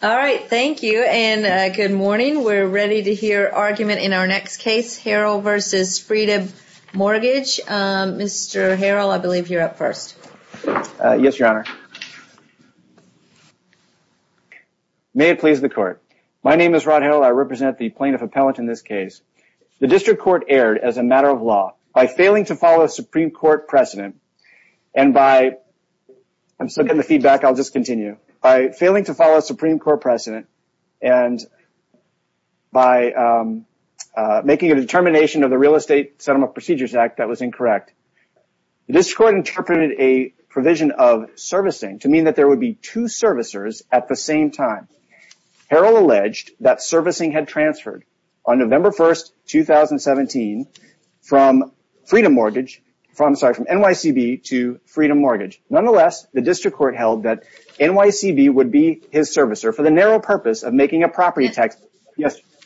Thank you and good morning. We're ready to hear argument in our next case, Harrell v. Freedom Mortgage. Mr. Harrell, I believe you're up first. Yes, Your Honor. May it please the Court. My name is Rod Harrell. I represent the Plaintiff Appellant in this case. The District Court erred as a matter of law by failing to follow a Supreme Court precedent and by making a determination of the Real Estate Settlement Procedures Act that was incorrect. The District Court interpreted a provision of servicing to mean that there would be two servicers at the same time. Harrell alleged that servicing had transferred on November 1, 2017 from NYCB to Freedom Mortgage. Nonetheless, the District Court held that NYCB would be his servicer for the narrow purpose of making a property tax…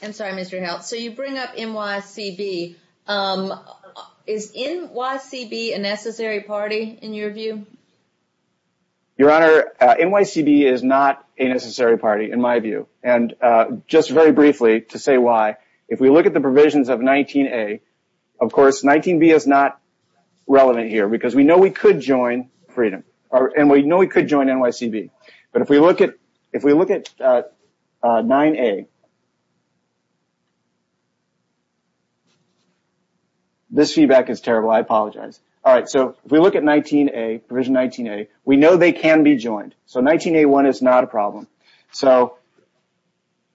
I'm sorry, Mr. Harrell. So you bring up NYCB. Is NYCB a necessary party in your view? Your Honor, NYCB is not a necessary party in my view. And just very briefly to say why, if we look at the provisions of 19A, of course 19B is not relevant here because we know we could join NYCB. But if we look at 19A, we know they can be joined. So 19A1 is not a problem. So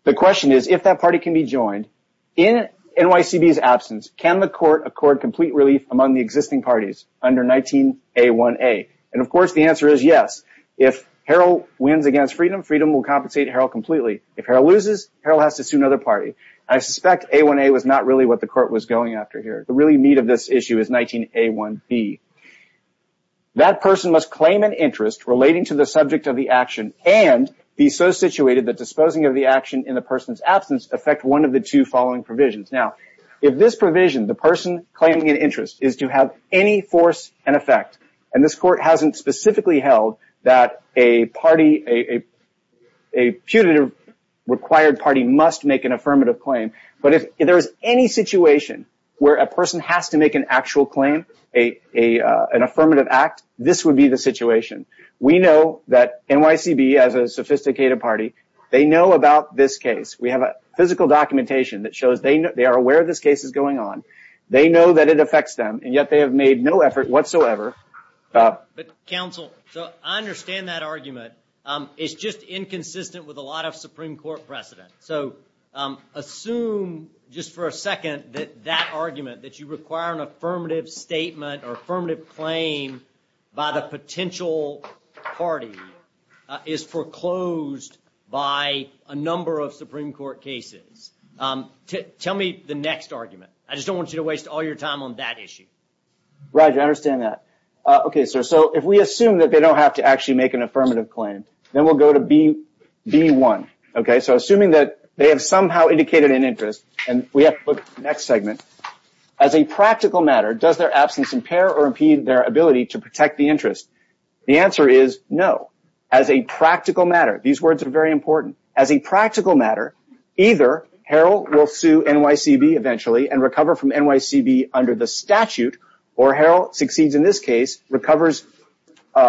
the question is, if that party can be joined, in NYCB's absence, can the court accord complete relief among the existing parties under 19A1A? And of course the answer is yes. If Harrell wins against Freedom, Freedom will compensate Harrell completely. If Harrell loses, Harrell has to sue another party. I suspect A1A was not really what the court was going after here. The really meat of this issue is 19A1B. That person must claim an interest relating to the subject of the action and be so situated that disposing of the action in the person's absence affect one of the two following provisions. Now, if this provision, the person claiming an interest, is to have any force and effect, and this court hasn't specifically held that a putative required party must make an affirmative claim, but if there is any situation where a person has to make an actual claim, an affirmative act, this would be the situation. We know that NYCB, as a sophisticated party, they know about this case. We have physical documentation that shows they are aware this case is going on. They know that it affects them, and yet they have made no effort whatsoever. Counsel, I understand that argument. It's just inconsistent with a lot of Supreme Court precedent. Assume, just for a second, that that argument, that you require an affirmative statement or affirmative claim by the potential party, is foreclosed by a number of Supreme Court cases. Tell me the next argument. I just don't want you to waste all your time on that issue. Roger, I understand that. Okay, so if we assume that they don't have to actually make an affirmative claim, then we'll go to B1. Okay, so assuming that they have somehow indicated an interest, and we have to look at the next segment. As a practical matter, does their absence impair or impede their ability to protect the interest? The answer is no. As a practical matter, these words are very important. As a practical matter, either Harold will sue NYCB eventually and recover from NYCB under the statute, or Harold succeeds in this case, recovers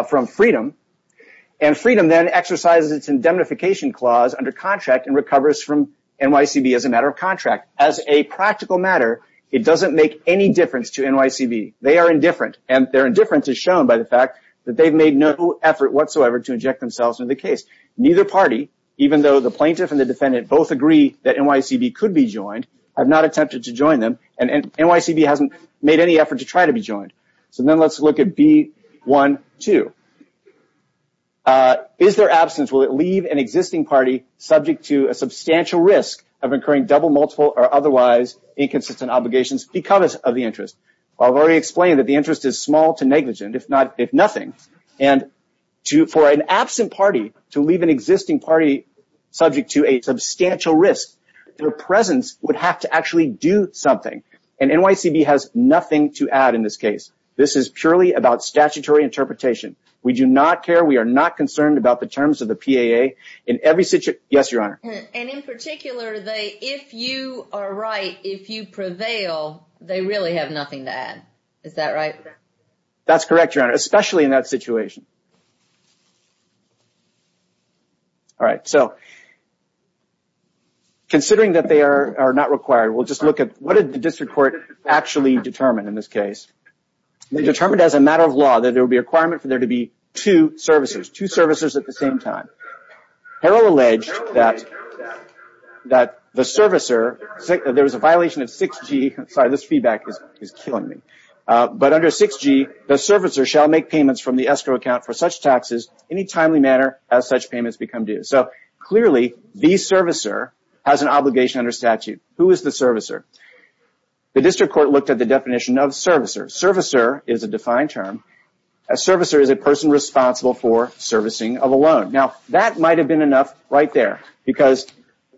from Freedom, and Freedom then exercises its indemnification clause under contract and recovers from NYCB as a matter of contract. As a practical matter, it doesn't make any difference to NYCB. They are indifferent, and their indifference is shown by the fact that they've made no effort whatsoever to inject themselves into the case. Neither party, even though the plaintiff and the defendant both agree that NYCB could be joined, have not attempted to join them, and NYCB hasn't made any effort to try to be joined. So then let's look at B1.2. Is their absence, will it leave an existing party subject to a substantial risk of incurring double, multiple, or otherwise inconsistent obligations because of the interest? Well, I've already explained that the interest is small to negligent, if nothing. And for an absent party to leave an existing party subject to a substantial risk, their presence would have to actually do something. And NYCB has nothing to add in this case. This is purely about statutory interpretation. We do not care. We are not concerned about the terms of the PAA in every situation. Yes, Your Honor. And in particular, if you are right, if you prevail, they really have nothing to add. Is that right? That's correct, Your Honor, especially in that situation. All right, so considering that they are not required, we'll just look at what did the district court actually determine in this case. They determined as a matter of law that there would be a requirement for there to be two servicers, two servicers at the same time. Harrell alleged that the servicer, there was a violation of 6G. Sorry, this feedback is killing me. But under 6G, the servicer shall make payments from the escrow account for such taxes any timely manner as such payments become due. So clearly, the servicer has an obligation under statute. Who is the servicer? The district court looked at the definition of servicer. Servicer is a defined term. A servicer is a person responsible for servicing of a loan. Now, that might have been enough right there because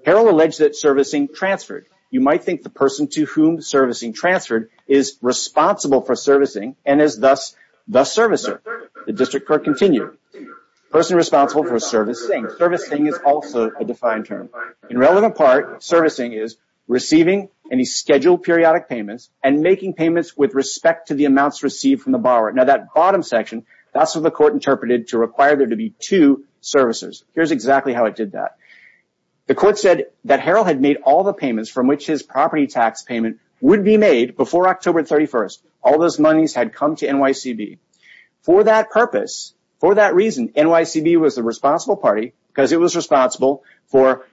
Harrell alleged that servicing transferred. You might think the person to whom servicing transferred is responsible for servicing and is thus the servicer. The district court continued, person responsible for servicing. Servicing is also a defined term. In relevant part, servicing is receiving any scheduled periodic payments and making payments with respect to the amounts received from the borrower. Now, that bottom section, that's what the court interpreted to require there to be two servicers. Here's exactly how it did that. The court said that Harrell had made all the payments from which his property tax payment would be made before October 31st. All those monies had come to NYCB. For that purpose, for that reason, NYCB was the responsible party because it was responsible for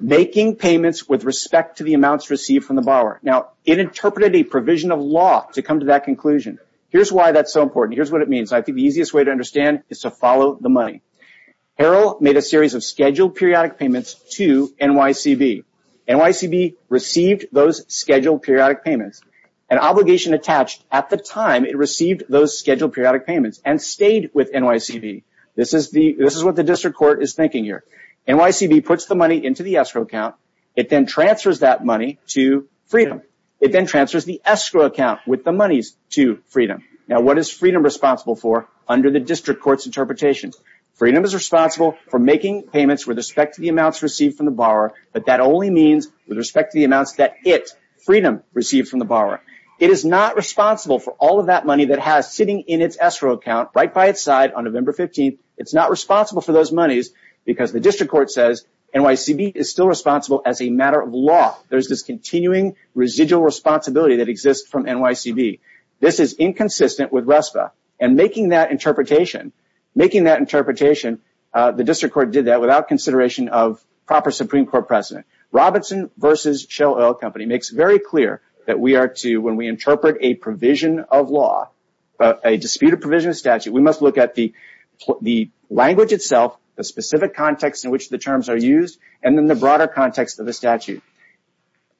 making payments with respect to the amounts received from the borrower. Now, it interpreted a provision of law to come to that conclusion. Here's why that's so important. Here's what it means. I think the easiest way to understand is to follow the money. Harrell made a series of scheduled periodic payments to NYCB. NYCB received those scheduled periodic payments. An obligation attached at the time it received those scheduled periodic payments and stayed with NYCB. This is what the district court is thinking here. NYCB puts the money into the escrow account. It then transfers that money to Freedom. It then transfers the escrow account with the monies to Freedom. Now, what is Freedom responsible for under the district court's interpretation? Freedom is responsible for making payments with respect to the amounts received from the borrower, but that only means with respect to the amounts that it, Freedom, received from the borrower. It is not responsible for all of that money that has sitting in its escrow account right by its side on November 15th. It's not responsible for those monies because the district court says NYCB is still responsible as a matter of law. There is this continuing residual responsibility that exists from NYCB. This is inconsistent with RESPA, and making that interpretation, the district court did that without consideration of proper Supreme Court precedent. Robinson v. Shell Oil Company makes it very clear that we are to, when we interpret a provision of law, a disputed provision of statute, we must look at the language itself, the specific context in which the terms are used, and then the broader context of the statute.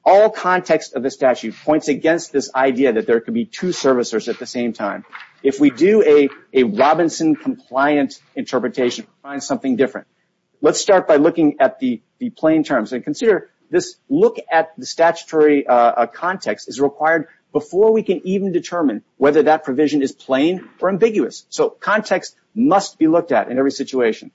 All context of the statute points against this idea that there could be two servicers at the same time. If we do a Robinson-compliant interpretation, we find something different. Let's start by looking at the plain terms. Consider this look at the statutory context is required before we can even determine whether that provision is plain or ambiguous. Context must be looked at in every situation.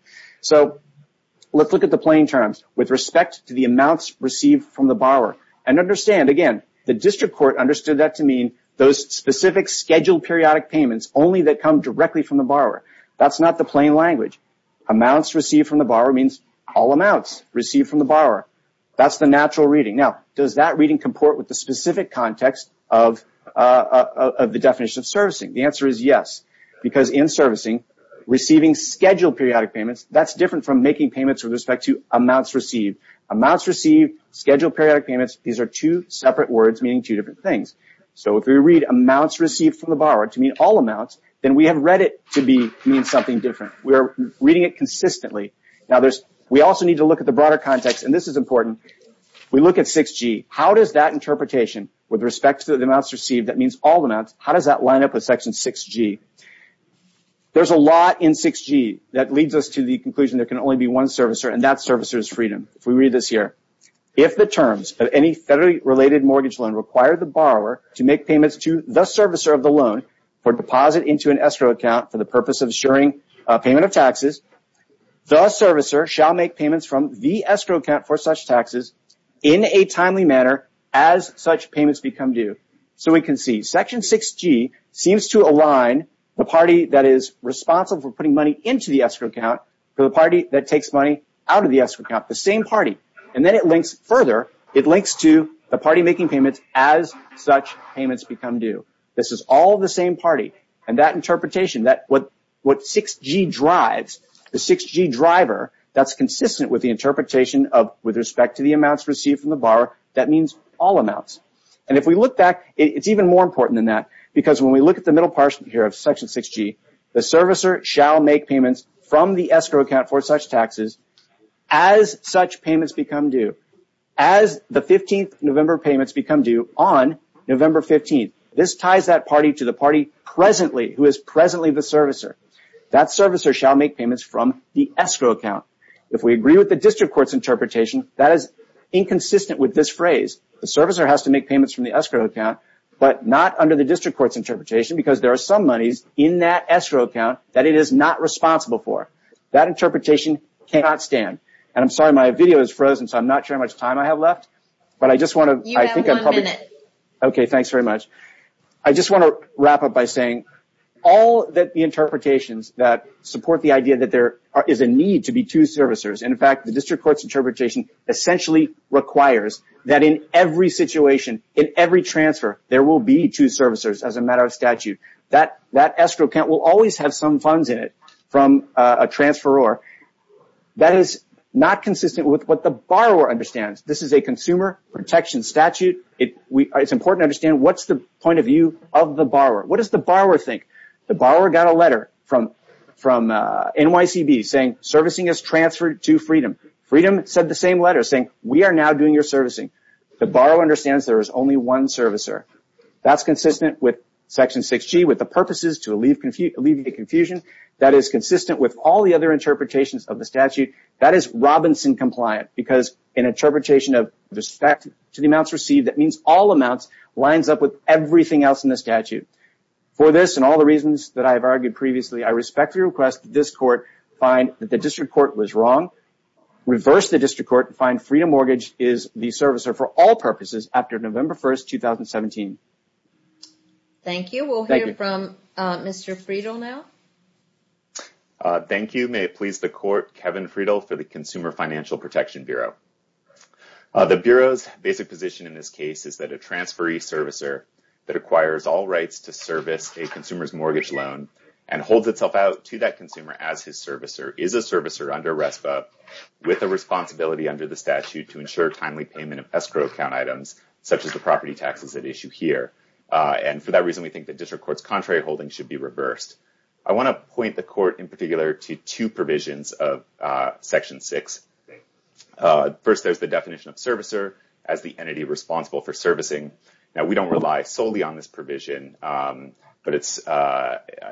Let's look at the plain terms with respect to the amounts received from the borrower. Understand, again, the district court understood that to mean those specific scheduled periodic payments only that come directly from the borrower. That's not the plain language. Amounts received from the borrower means all amounts received from the borrower. That's the natural reading. The answer is yes, because in servicing, receiving scheduled periodic payments, that's different from making payments with respect to amounts received. Amounts received, scheduled periodic payments, these are two separate words meaning two different things. If we read amounts received from the borrower to mean all amounts, then we have read it to mean something different. We are reading it consistently. We also need to look at the broader context, and this is important. We look at 6G. How does that interpretation with respect to the amounts received, that means all amounts, how does that line up with Section 6G? There's a lot in 6G that leads us to the conclusion there can only be one servicer, and that servicer is freedom. If we read this here. If the terms of any federally related mortgage loan require the borrower to make payments to the servicer of the loan for deposit into an escrow account for the purpose of assuring payment of taxes, the servicer shall make payments from the escrow account for such taxes in a timely manner as such payments become due. So we can see Section 6G seems to align the party that is responsible for putting money into the escrow account to the party that takes money out of the escrow account, the same party. And then it links further, it links to the party making payments as such payments become due. This is all the same party, and that interpretation, what 6G drives, the 6G driver, that's consistent with the interpretation with respect to the amounts received from the borrower, that means all amounts. And if we look back, it's even more important than that, because when we look at the middle part here of Section 6G, the servicer shall make payments from the escrow account for such taxes as such payments become due, as the 15th of November payments become due on November 15th. This ties that party to the party presently, who is presently the servicer. That servicer shall make payments from the escrow account. If we agree with the district court's interpretation, that is inconsistent with this phrase. The servicer has to make payments from the escrow account, but not under the district court's interpretation, because there are some monies in that escrow account that it is not responsible for. That interpretation cannot stand. And I'm sorry, my video is frozen, so I'm not sure how much time I have left, but I just want to – You have one minute. Okay, thanks very much. I just want to wrap up by saying all the interpretations that support the idea that there is a need to be two servicers, and, in fact, the district court's interpretation essentially requires that in every situation, in every transfer, there will be two servicers as a matter of statute. That escrow account will always have some funds in it from a transferor. That is not consistent with what the borrower understands. This is a consumer protection statute. It's important to understand what's the point of view of the borrower. What does the borrower think? The borrower got a letter from NYCB saying servicing is transferred to Freedom. Freedom said the same letter, saying, we are now doing your servicing. The borrower understands there is only one servicer. That's consistent with Section 6G, with the purposes to alleviate confusion. That is consistent with all the other interpretations of the statute. That is Robinson compliant, because an interpretation of respect to the amounts received, For this and all the reasons that I have argued previously, I respectfully request that this court find that the district court was wrong, reverse the district court, and find Freedom Mortgage is the servicer for all purposes after November 1, 2017. Thank you. We'll hear from Mr. Friedel now. Thank you. May it please the Court, Kevin Friedel for the Consumer Financial Protection Bureau. The Bureau's basic position in this case is that a transferee servicer that acquires all rights to service a consumer's mortgage loan and holds itself out to that consumer as his servicer is a servicer under RESPA with a responsibility under the statute to ensure timely payment of escrow account items, such as the property taxes at issue here. And for that reason, we think the district court's contrary holding should be reversed. I want to point the court in particular to two provisions of Section 6. First, there's the definition of servicer as the entity responsible for servicing. Now, we don't rely solely on this provision, but it's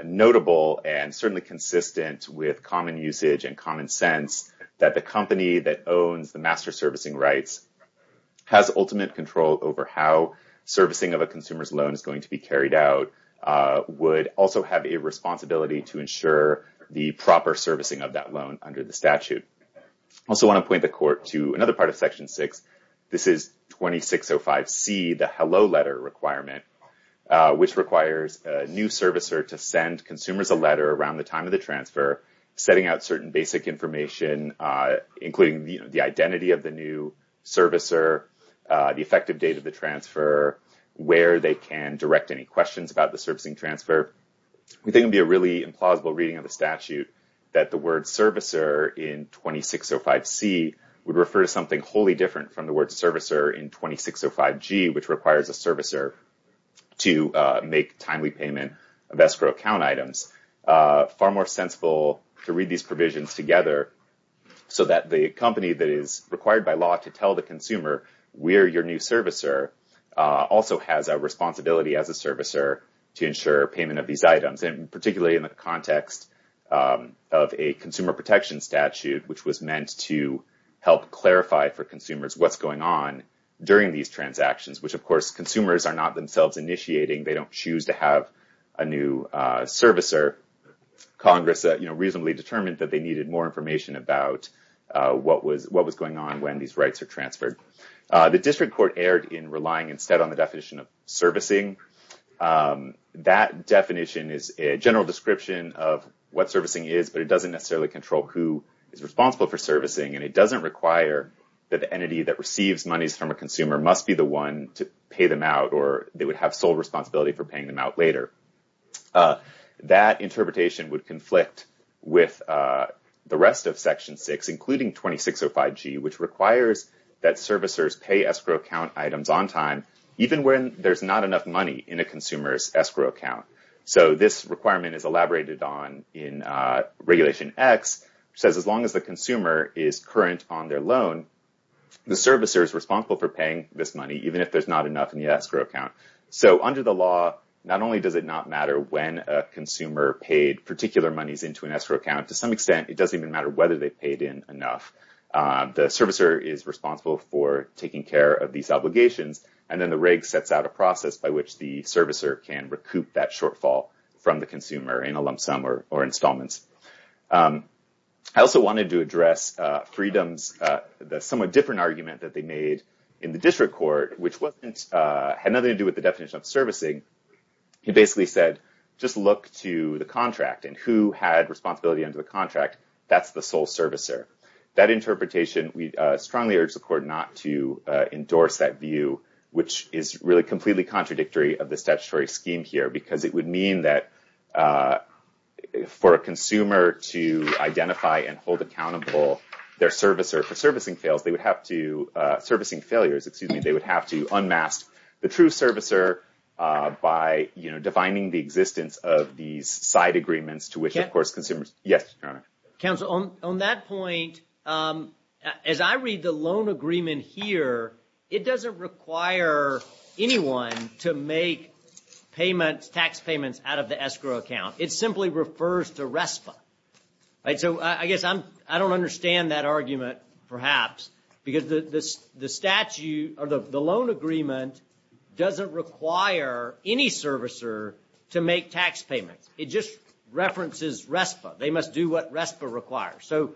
notable and certainly consistent with common usage and common sense that the company that owns the master servicing rights has ultimate control over how servicing of a consumer's loan is going to be carried out, would also have a responsibility to ensure the proper servicing of that loan under the statute. I also want to point the court to another part of Section 6. This is 2605C, the hello letter requirement, which requires a new servicer to send consumers a letter around the time of the transfer, setting out certain basic information, including the identity of the new servicer, the effective date of the transfer, where they can direct any questions about the servicing transfer. We think it would be a really implausible reading of the statute that the word servicer in 2605C would refer to something wholly different from the word servicer in 2605G, which requires a servicer to make timely payment of escrow account items. Far more sensible to read these provisions together so that the company that is required by law to tell the consumer where your new servicer also has a responsibility as a servicer to ensure payment of these items, and particularly in the context of a consumer protection statute, which was meant to help clarify for consumers what's going on during these transactions, which, of course, consumers are not themselves initiating. They don't choose to have a new servicer. Congress reasonably determined that they needed more information about what was going on when these rights are transferred. The district court erred in relying instead on the definition of servicing. That definition is a general description of what servicing is, but it doesn't necessarily control who is responsible for servicing, and it doesn't require that the entity that receives monies from a consumer must be the one to pay them out or they would have sole responsibility for paying them out later. That interpretation would conflict with the rest of Section 6, including 2605G, which requires that servicers pay escrow account items on time even when there's not enough money in a consumer's escrow account. So this requirement is elaborated on in Regulation X, which says as long as the consumer is current on their loan, the servicer is responsible for paying this money even if there's not enough in the escrow account. So under the law, not only does it not matter when a consumer paid particular monies into an escrow account, to some extent it doesn't even matter whether they paid in enough. The servicer is responsible for taking care of these obligations, and then the Reg sets out a process by which the servicer can recoup that shortfall from the consumer in a lump sum or installments. I also wanted to address Freedom's somewhat different argument that they made in the District Court, which had nothing to do with the definition of servicing. It basically said, just look to the contract and who had responsibility under the contract, that's the sole servicer. That interpretation, we strongly urge the Court not to endorse that view, which is really completely contradictory of the statutory scheme here, because it would mean that for a consumer to identify and hold accountable their servicer for servicing fails, they would have to, servicing failures, excuse me, they would have to unmask the true servicer by defining the existence of these side agreements to which, of course, consumers. Yes, Your Honor. Counsel, on that point, as I read the loan agreement here, it doesn't require anyone to make payments, tax payments out of the escrow account. It simply refers to RESPA. So I guess I don't understand that argument, perhaps, because the statute or the loan agreement doesn't require any servicer to make tax payments. It just references RESPA. They must do what RESPA requires. So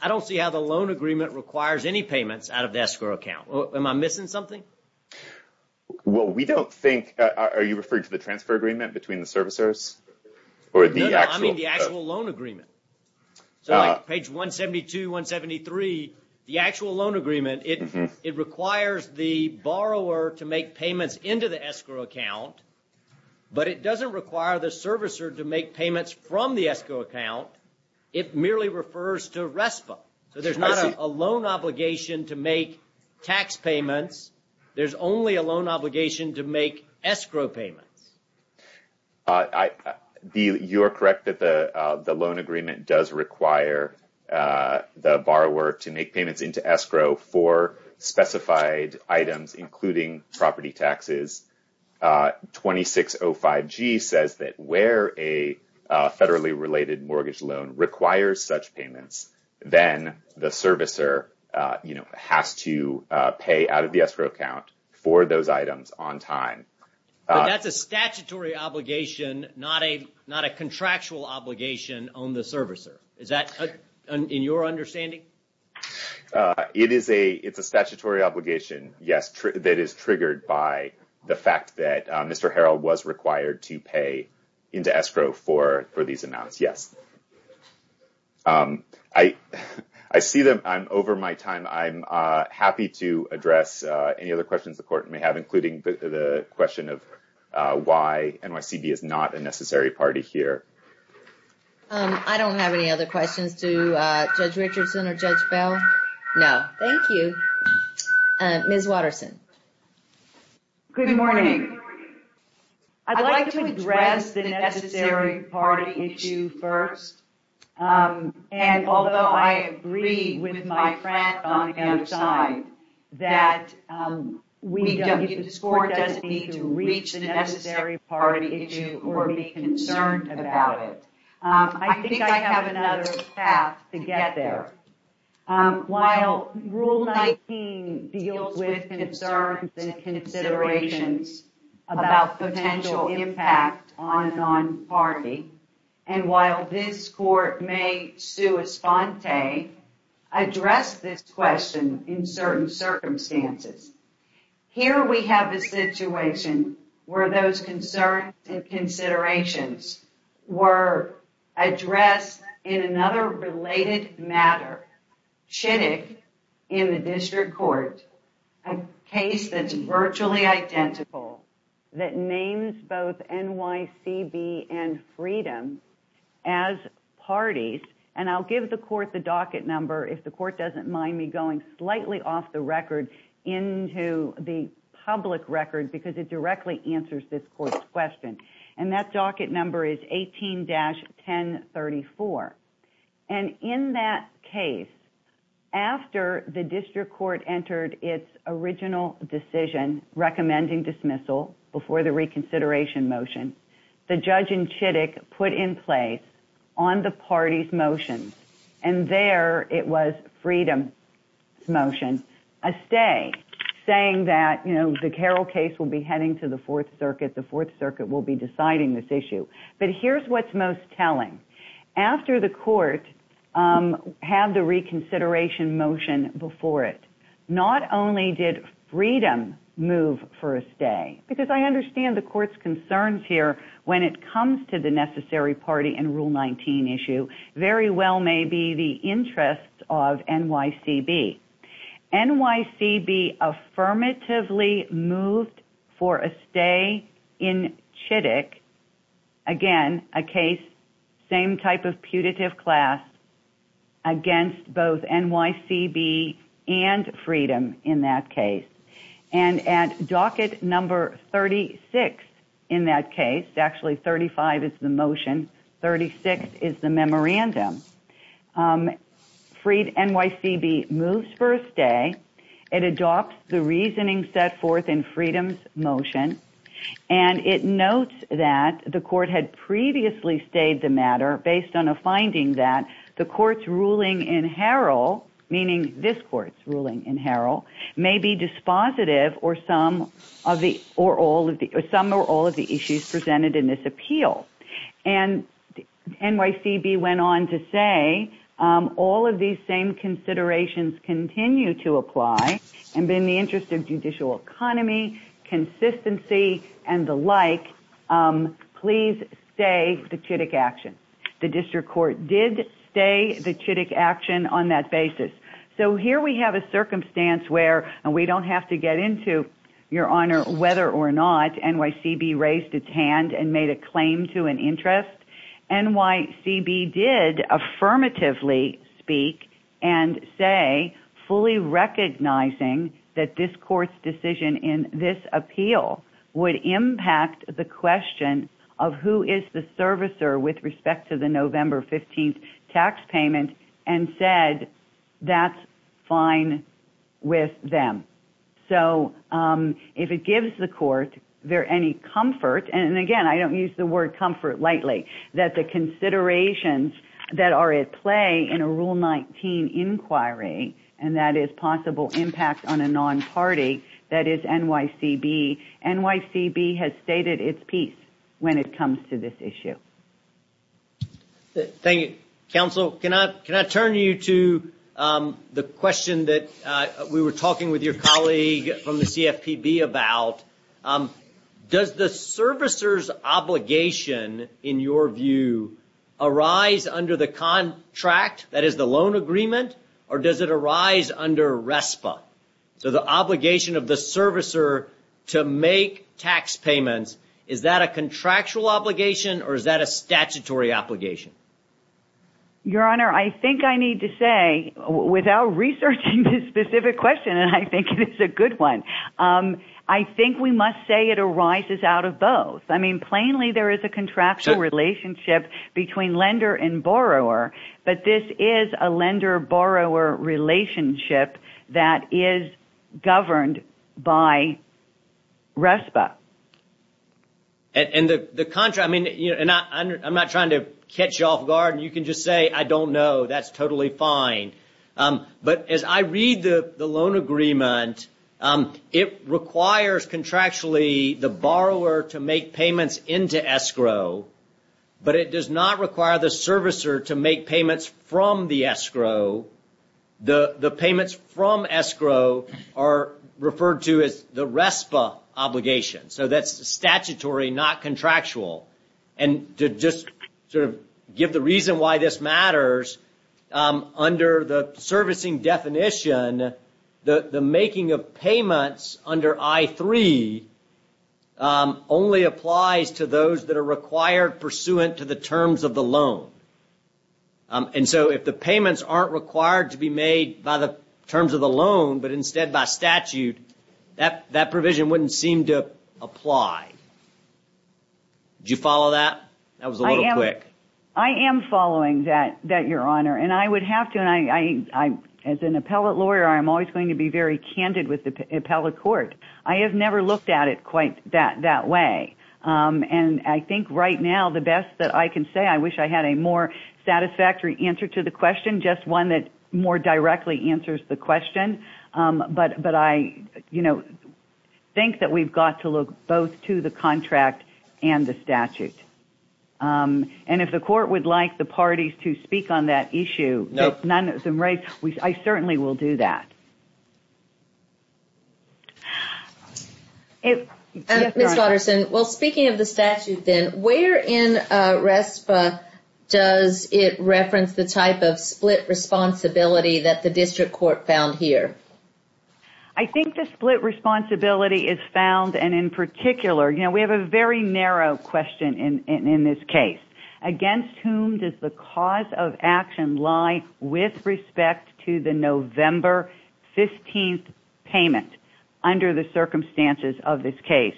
I don't see how the loan agreement requires any payments out of the escrow account. Am I missing something? Well, we don't think, are you referring to the transfer agreement between the servicers? No, no, I mean the actual loan agreement. So page 172, 173, the actual loan agreement, it requires the borrower to make payments into the escrow account, but it doesn't require the servicer to make payments from the escrow account. It merely refers to RESPA. So there's not a loan obligation to make tax payments. There's only a loan obligation to make escrow payments. You are correct that the loan agreement does require the borrower to make payments into escrow for specified items, including property taxes. 2605G says that where a federally related mortgage loan requires such payments, then the servicer has to pay out of the escrow account for those items on time. But that's a statutory obligation, not a contractual obligation on the servicer. Is that in your understanding? It is a statutory obligation, yes, that is triggered by the fact that Mr. Harrell was required to pay into escrow for these amounts, yes. I see that I'm over my time. I'm happy to address any other questions the court may have, including the question of why NYCB is not a necessary party here. I don't have any other questions to Judge Richardson or Judge Bell. No, thank you. Ms. Watterson. Good morning. I'd like to address the necessary party issue first. And although I agree with my friend on the other side that this court doesn't need to reach the necessary party issue or be concerned about it, I think I have another path to get there. While Rule 19 deals with concerns and considerations about potential impact on a non-party, and while this court may, sua sponte, address this question in certain circumstances, here we have a situation where those concerns and considerations were addressed in another related matter. Chittick, in the district court, a case that's virtually identical, that names both NYCB and Freedom as parties, and I'll give the court the docket number if the court doesn't mind me going slightly off the record into the public record because it directly answers this court's question. And that docket number is 18-1034. And in that case, after the district court entered its original decision recommending dismissal before the reconsideration motion, the judge in Chittick put in place on the party's motion, and there it was Freedom's motion, a stay, saying that the Carroll case will be heading to the Fourth Circuit, the Fourth Circuit will be deciding this issue. But here's what's most telling. After the court had the reconsideration motion before it, not only did Freedom move for a stay, because I understand the court's concerns here when it comes to the necessary party in Rule 19 issue, very well may be the interests of NYCB. NYCB affirmatively moved for a stay in Chittick. Again, a case, same type of putative class, against both NYCB and Freedom in that case. And at docket number 36 in that case, actually 35 is the motion, 36 is the memorandum, NYCB moves for a stay. It adopts the reasoning set forth in Freedom's motion. And it notes that the court had previously stayed the matter based on a finding that the court's ruling in Harrell, meaning this court's ruling in Harrell, may be dispositive or some or all of the issues presented in this appeal. And NYCB went on to say all of these same considerations continue to apply, and in the interest of judicial economy, consistency, and the like, please stay the Chittick action. The district court did stay the Chittick action on that basis. So here we have a circumstance where, and we don't have to get into, Your Honor, whether or not NYCB raised its hand and made a claim to an interest. NYCB did affirmatively speak and say fully recognizing that this court's decision in this appeal would impact the question of who is the servicer with respect to the November 15th tax payment, and said that's fine with them. So if it gives the court any comfort, and again, I don't use the word comfort lightly, that the considerations that are at play in a Rule 19 inquiry, and that is possible impact on a non-party, that is NYCB. NYCB has stated its piece when it comes to this issue. Thank you. Counsel, can I turn you to the question that we were talking with your colleague from the CFPB about, does the servicer's obligation, in your view, arise under the contract, that is the loan agreement, or does it arise under RESPA? So the obligation of the servicer to make tax payments, is that a contractual obligation, or is that a statutory obligation? Your Honor, I think I need to say, without researching this specific question, and I think it's a good one, I think we must say it arises out of both. I mean, plainly there is a contractual relationship between lender and borrower, but this is a lender-borrower relationship that is governed by RESPA. And the contract, I mean, and I'm not trying to catch you off guard, and you can just say, I don't know, that's totally fine. But as I read the loan agreement, it requires contractually the borrower to make payments into escrow, but it does not require the servicer to make payments from the escrow. The payments from escrow are referred to as the RESPA obligation. So that's statutory, not contractual. And to just sort of give the reason why this matters, under the servicing definition, the making of payments under I-3 only applies to those that are required pursuant to the terms of the loan. And so if the payments aren't required to be made by the terms of the loan, but instead by statute, that provision wouldn't seem to apply. Did you follow that? That was a little quick. I am following that, Your Honor. And I would have to, as an appellate lawyer, I'm always going to be very candid with the appellate court. I have never looked at it quite that way. And I think right now the best that I can say, I wish I had a more satisfactory answer to the question, just one that more directly answers the question. But I think that we've got to look both to the contract and the statute. And if the court would like the parties to speak on that issue, I certainly will do that. Ms. Watterson, well, speaking of the statute then, where in RESPA does it reference the type of split responsibility that the district court found here? I think the split responsibility is found, and in particular, we have a very narrow question in this case. Against whom does the cause of action lie with respect to the November 15th payment under the circumstances of this case?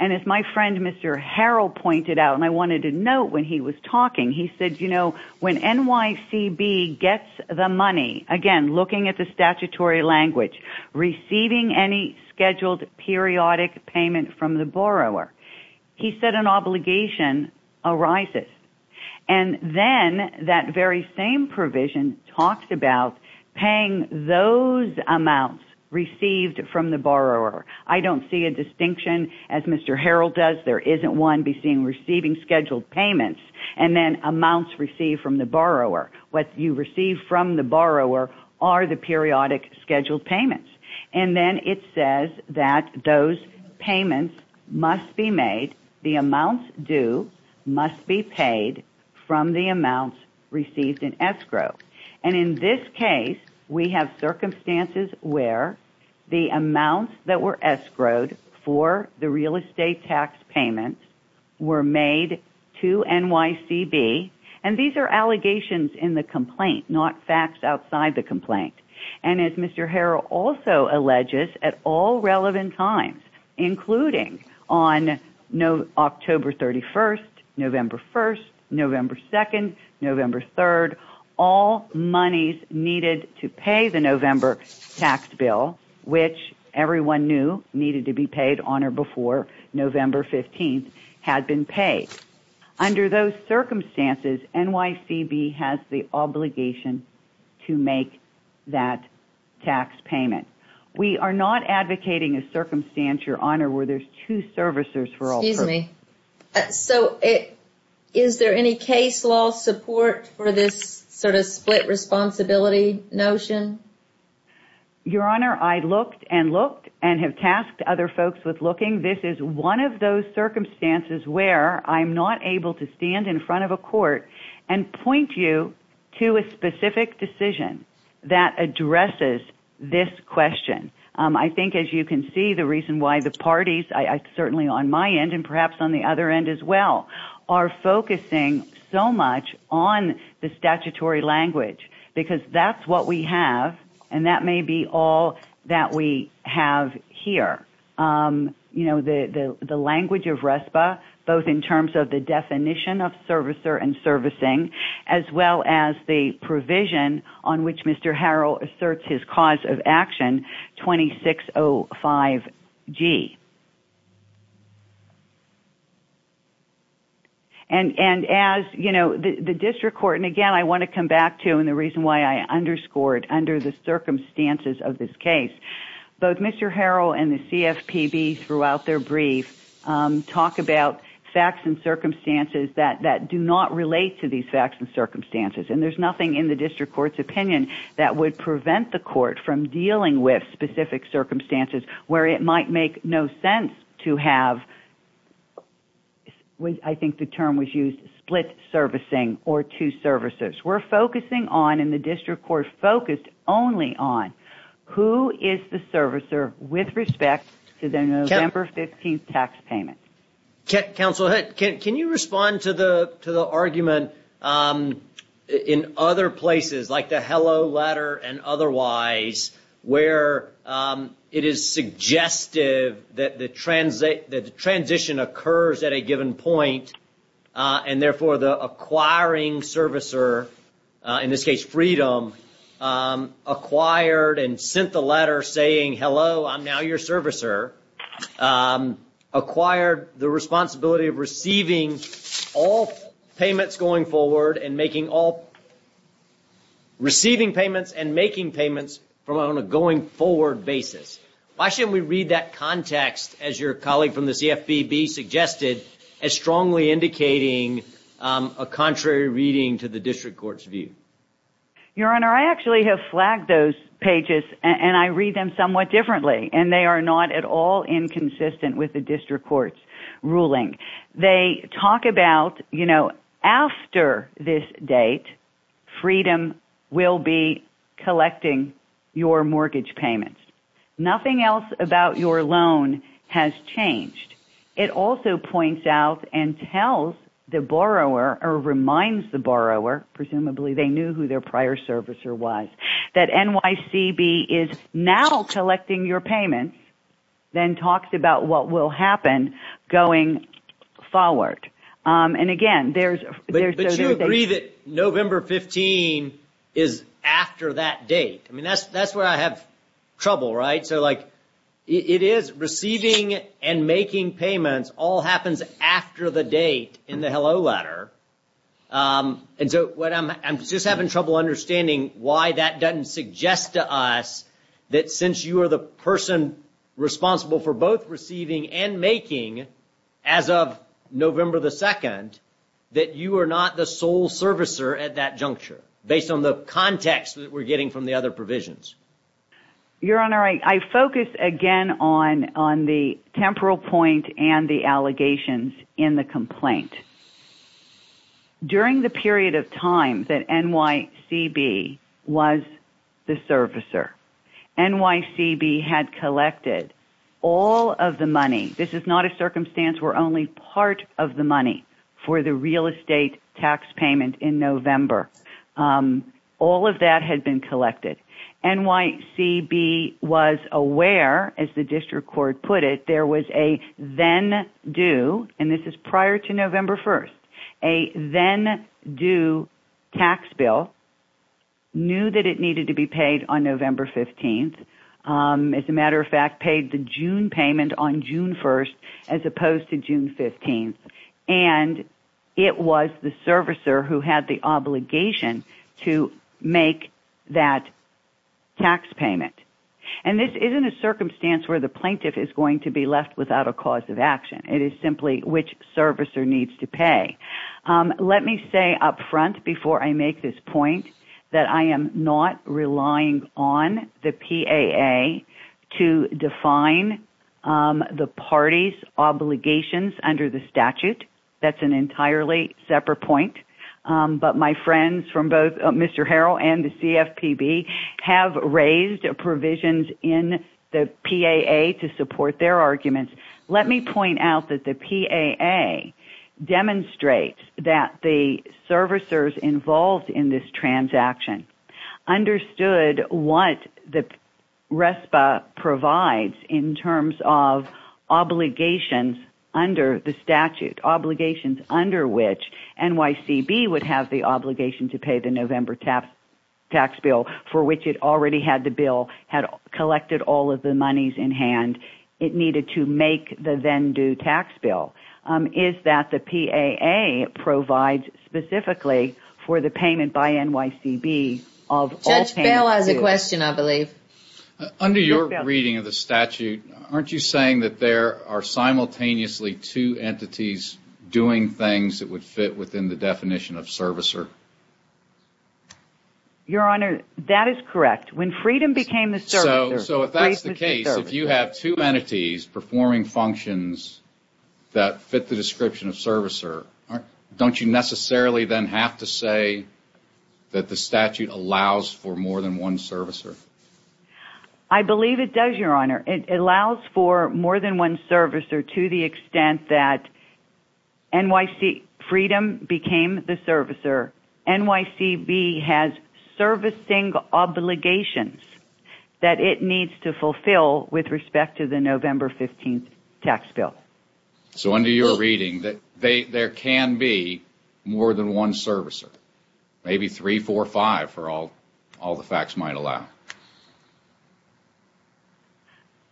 And as my friend Mr. Harrell pointed out, and I wanted to note when he was talking, he said, you know, when NYCB gets the money, again, looking at the statutory language, receiving any scheduled periodic payment from the borrower. He said an obligation arises. And then that very same provision talks about paying those amounts received from the borrower. I don't see a distinction, as Mr. Harrell does, there isn't one between receiving scheduled payments and then amounts received from the borrower. What you receive from the borrower are the periodic scheduled payments. And then it says that those payments must be made, the amounts due, must be paid from the amounts received in escrow. And in this case, we have circumstances where the amounts that were escrowed for the real estate tax payments were made to NYCB, and these are allegations in the complaint, not facts outside the complaint. And as Mr. Harrell also alleges, at all relevant times, including on October 31st, November 1st, November 2nd, November 3rd, all monies needed to pay the November tax bill, which everyone knew needed to be paid on or before November 15th, had been paid. Under those circumstances, NYCB has the obligation to make that tax payment. We are not advocating a circumstance, Your Honor, where there's two servicers for all. Excuse me. So is there any case law support for this sort of split responsibility notion? Your Honor, I looked and looked and have tasked other folks with looking. This is one of those circumstances where I'm not able to stand in front of a court and point you to a specific decision that addresses this question. I think, as you can see, the reason why the parties, certainly on my end and perhaps on the other end as well, are focusing so much on the statutory language, because that's what we have and that may be all that we have here. The language of RESPA, both in terms of the definition of servicer and servicing, as well as the provision on which Mr. Harrell asserts his cause of action, 2605G. And as, you know, the district court, and again, I want to come back to, and the reason why I underscored under the circumstances of this case, both Mr. Harrell and the CFPB throughout their brief talk about facts and circumstances that do not relate to these facts and circumstances. And there's nothing in the district court's opinion that would prevent the court to have, I think the term was used, split servicing or two servicers. We're focusing on, and the district court focused only on, who is the servicer with respect to the November 15th tax payment. Counsel, can you respond to the argument in other places, like the hello letter and otherwise, where it is suggestive that the transition occurs at a given point, and therefore the acquiring servicer, in this case Freedom, acquired and sent the letter saying, hello, I'm now your servicer, acquired the responsibility of receiving all payments going forward and making all, receiving payments and making payments on a going forward basis. Why shouldn't we read that context, as your colleague from the CFPB suggested, as strongly indicating a contrary reading to the district court's view? Your Honor, I actually have flagged those pages, and I read them somewhat differently, and they are not at all inconsistent with the district court's ruling. They talk about, you know, after this date, Freedom will be collecting your mortgage payments. Nothing else about your loan has changed. It also points out and tells the borrower, or reminds the borrower, presumably they knew who their prior servicer was, that NYCB is now collecting your payments, then talks about what will happen going forward. And again, there's those other things. But you agree that November 15 is after that date. I mean, that's where I have trouble, right? So, like, it is receiving and making payments all happens after the date in the hello letter. And so I'm just having trouble understanding why that doesn't suggest to us that since you are the person responsible for both receiving and making as of November 2, that you are not the sole servicer at that juncture, based on the context that we're getting from the other provisions. Your Honor, I focus again on the temporal point and the allegations in the complaint. During the period of time that NYCB was the servicer, NYCB had collected all of the money. This is not a circumstance where only part of the money for the real estate tax payment in November. All of that had been collected. NYCB was aware, as the district court put it, there was a then due, and this is prior to November 1st, a then due tax bill, knew that it needed to be paid on November 15th. As a matter of fact, paid the June payment on June 1st as opposed to June 15th. And it was the servicer who had the obligation to make that tax payment. And this isn't a circumstance where the plaintiff is going to be left without a cause of action. It is simply which servicer needs to pay. Let me say up front, before I make this point, that I am not relying on the PAA to define the party's obligations under the statute. That's an entirely separate point. But my friends from both Mr. Harrell and the CFPB have raised provisions in the PAA to support their arguments. Let me point out that the PAA demonstrates that the servicers involved in this transaction understood what the RESPA provides in terms of obligations under the statute, obligations under which NYCB would have the obligation to pay the November tax bill, for which it already had the bill, had collected all of the monies in hand. It needed to make the then-due tax bill. Is that the PAA provides specifically for the payment by NYCB of all payments? Judge Bell has a question, I believe. Under your reading of the statute, aren't you saying that there are simultaneously two entities doing things that would fit within the definition of servicer? Your Honor, that is correct. So if that's the case, if you have two entities performing functions that fit the description of servicer, don't you necessarily then have to say that the statute allows for more than one servicer? I believe it does, Your Honor. It allows for more than one servicer to the extent that NYC freedom became the servicer. NYCB has servicing obligations that it needs to fulfill with respect to the November 15th tax bill. So under your reading, there can be more than one servicer, maybe three, four, five for all the facts might allow.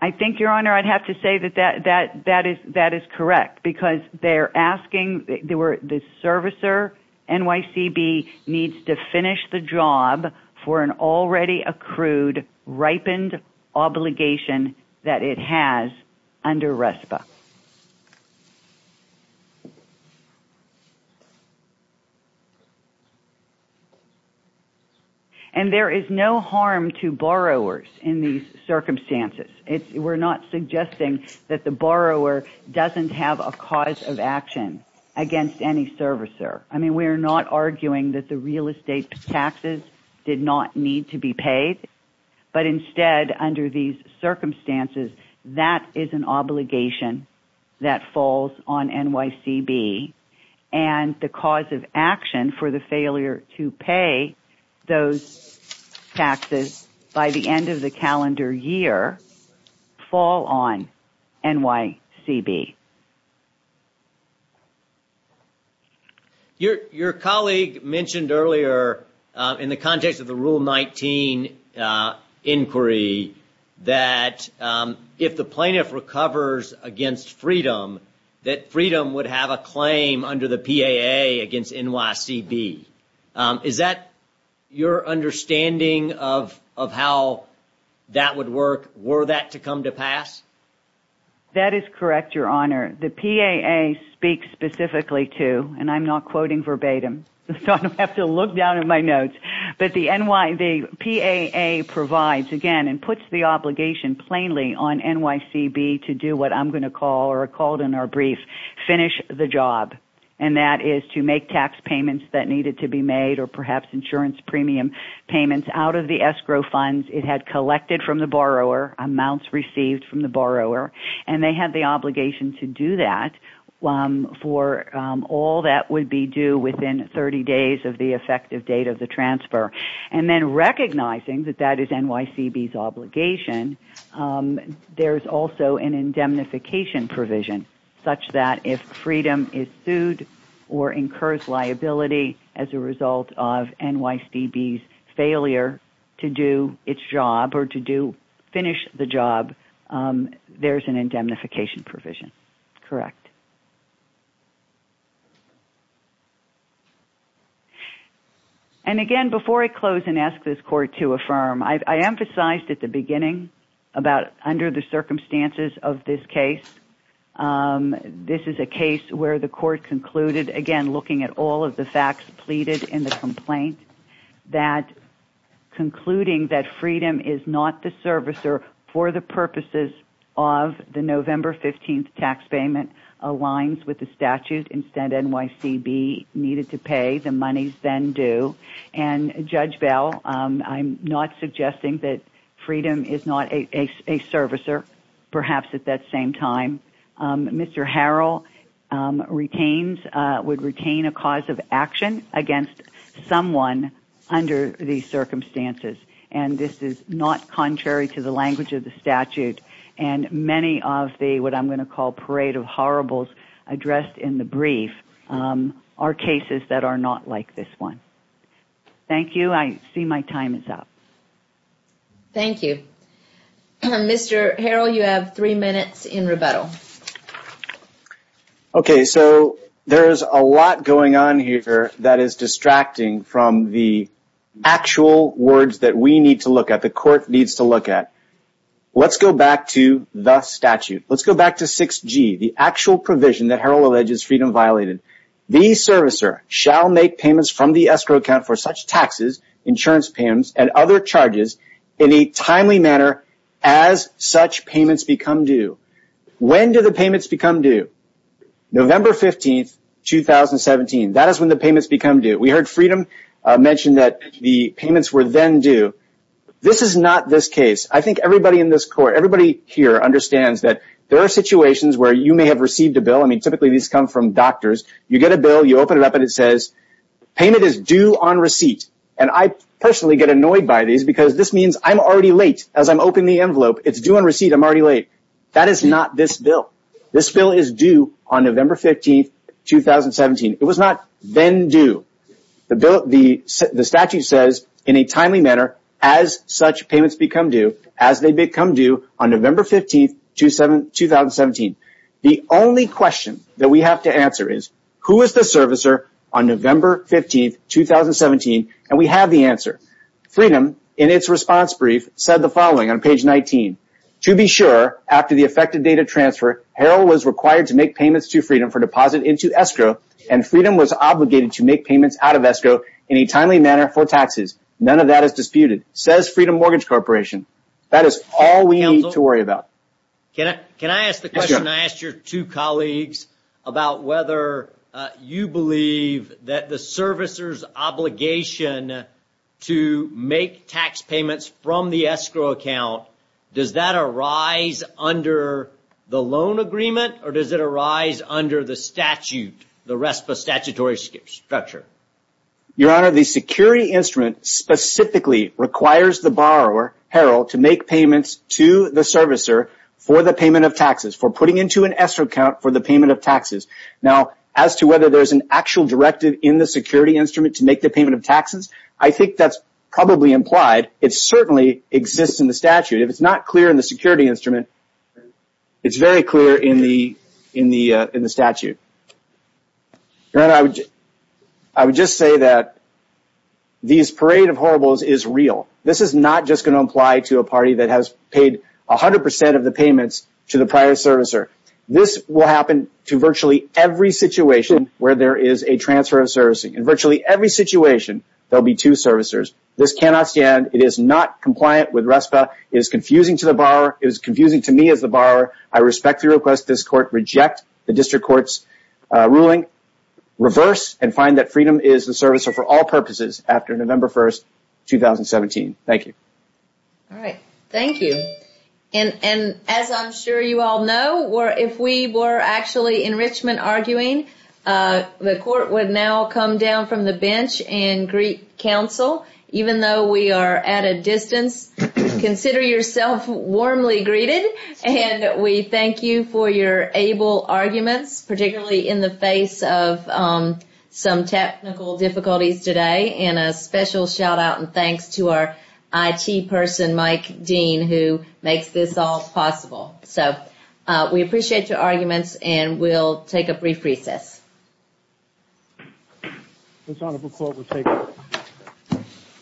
I think, Your Honor, I'd have to say that that is correct, because they're asking the servicer, NYCB needs to finish the job for an already accrued, ripened obligation that it has under RESPA. And there is no harm to borrowers in these circumstances. We're not suggesting that the borrower doesn't have a cause of action against any servicer. I mean, we're not arguing that the real estate taxes did not need to be paid. But instead, under these circumstances, that is an obligation that falls on NYCB. And the cause of action for the failure to pay those taxes by the end of the calendar year fall on NYCB. Your colleague mentioned earlier, in the context of the Rule 19 inquiry, that if the plaintiff recovers against Freedom, that Freedom would have a claim under the PAA against NYCB. Is that your understanding of how that would work? Were that to come to pass? That is correct, Your Honor. The PAA speaks specifically to, and I'm not quoting verbatim, so I don't have to look down at my notes, but the PAA provides, again, and puts the obligation plainly on NYCB to do what I'm going to call, or called in our brief, finish the job. And that is to make tax payments that needed to be made, or perhaps insurance premium payments, out of the escrow funds it had collected from the borrower, amounts received from the borrower. And they had the obligation to do that for all that would be due within 30 days of the effective date of the transfer. And then recognizing that that is NYCB's obligation, there's also an indemnification provision, such that if Freedom is sued or incurs liability as a result of NYCB's failure to do its job, or to finish the job, there's an indemnification provision. Correct. And again, before I close and ask this Court to affirm, I emphasized at the beginning, about under the circumstances of this case, this is a case where the Court concluded, again, looking at all of the facts pleaded in the complaint, that concluding that Freedom is not the servicer for the purposes of the November 15th tax payment aligns with the statute. Instead, NYCB needed to pay the monies then due. And Judge Bell, I'm not suggesting that Freedom is not a servicer, perhaps at that same time. Mr. Harrell would retain a cause of action against someone under these circumstances. And this is not contrary to the language of the statute. And many of the, what I'm going to call, parade of horribles addressed in the brief are cases that are not like this one. Thank you. I see my time is up. Thank you. Mr. Harrell, you have three minutes in rebuttal. Okay, so there is a lot going on here that is distracting from the actual words that we need to look at, the Court needs to look at. Let's go back to the statute. Let's go back to 6G, the actual provision that Harrell alleges Freedom violated. The servicer shall make payments from the escrow account for such taxes, insurance payments, and other charges in a timely manner as such payments become due. When do the payments become due? November 15, 2017. That is when the payments become due. We heard Freedom mention that the payments were then due. This is not this case. I think everybody in this Court, everybody here understands that there are situations where you may have received a bill. I mean, typically these come from doctors. You get a bill, you open it up, and it says payment is due on receipt. And I personally get annoyed by these because this means I'm already late as I'm opening the envelope. It's due on receipt, I'm already late. That is not this bill. This bill is due on November 15, 2017. It was not then due. The statute says in a timely manner as such payments become due, as they become due on November 15, 2017. The only question that we have to answer is, who is the servicer on November 15, 2017? And we have the answer. Freedom, in its response brief, said the following on page 19. To be sure, after the effective date of transfer, Herald was required to make payments to Freedom for deposit into escrow, and Freedom was obligated to make payments out of escrow in a timely manner for taxes. None of that is disputed, says Freedom Mortgage Corporation. That is all we need to worry about. Can I ask the question I asked your two colleagues about whether you believe that the servicer's obligation to make tax payments from the escrow account, does that arise under the loan agreement, or does it arise under the statute, the RESPA statutory structure? Your Honor, the security instrument specifically requires the borrower, Herald, to make payments to the servicer for the payment of taxes, for putting into an escrow account for the payment of taxes. Now, as to whether there's an actual directive in the security instrument to make the payment of taxes, I think that's probably implied. It certainly exists in the statute. If it's not clear in the security instrument, it's very clear in the statute. Your Honor, I would just say that this parade of horribles is real. This is not just going to apply to a party that has paid 100 percent of the payments to the prior servicer. This will happen to virtually every situation where there is a transfer of servicing. In virtually every situation, there will be two servicers. This cannot stand. It is not compliant with RESPA. It is confusing to the borrower. It is confusing to me as the borrower. I respectfully request this court reject the district court's ruling, reverse, and find that Freedom is the servicer for all purposes after November 1, 2017. Thank you. All right. Thank you. And as I'm sure you all know, if we were actually in Richmond arguing, the court would now come down from the bench and greet counsel. Even though we are at a distance, consider yourself warmly greeted, and we thank you for your able arguments, particularly in the face of some technical difficulties today. And a special shout-out and thanks to our IT person, Mike Dean, who makes this all possible. So we appreciate your arguments, and we'll take a brief recess. This Honorable Court will take a recess.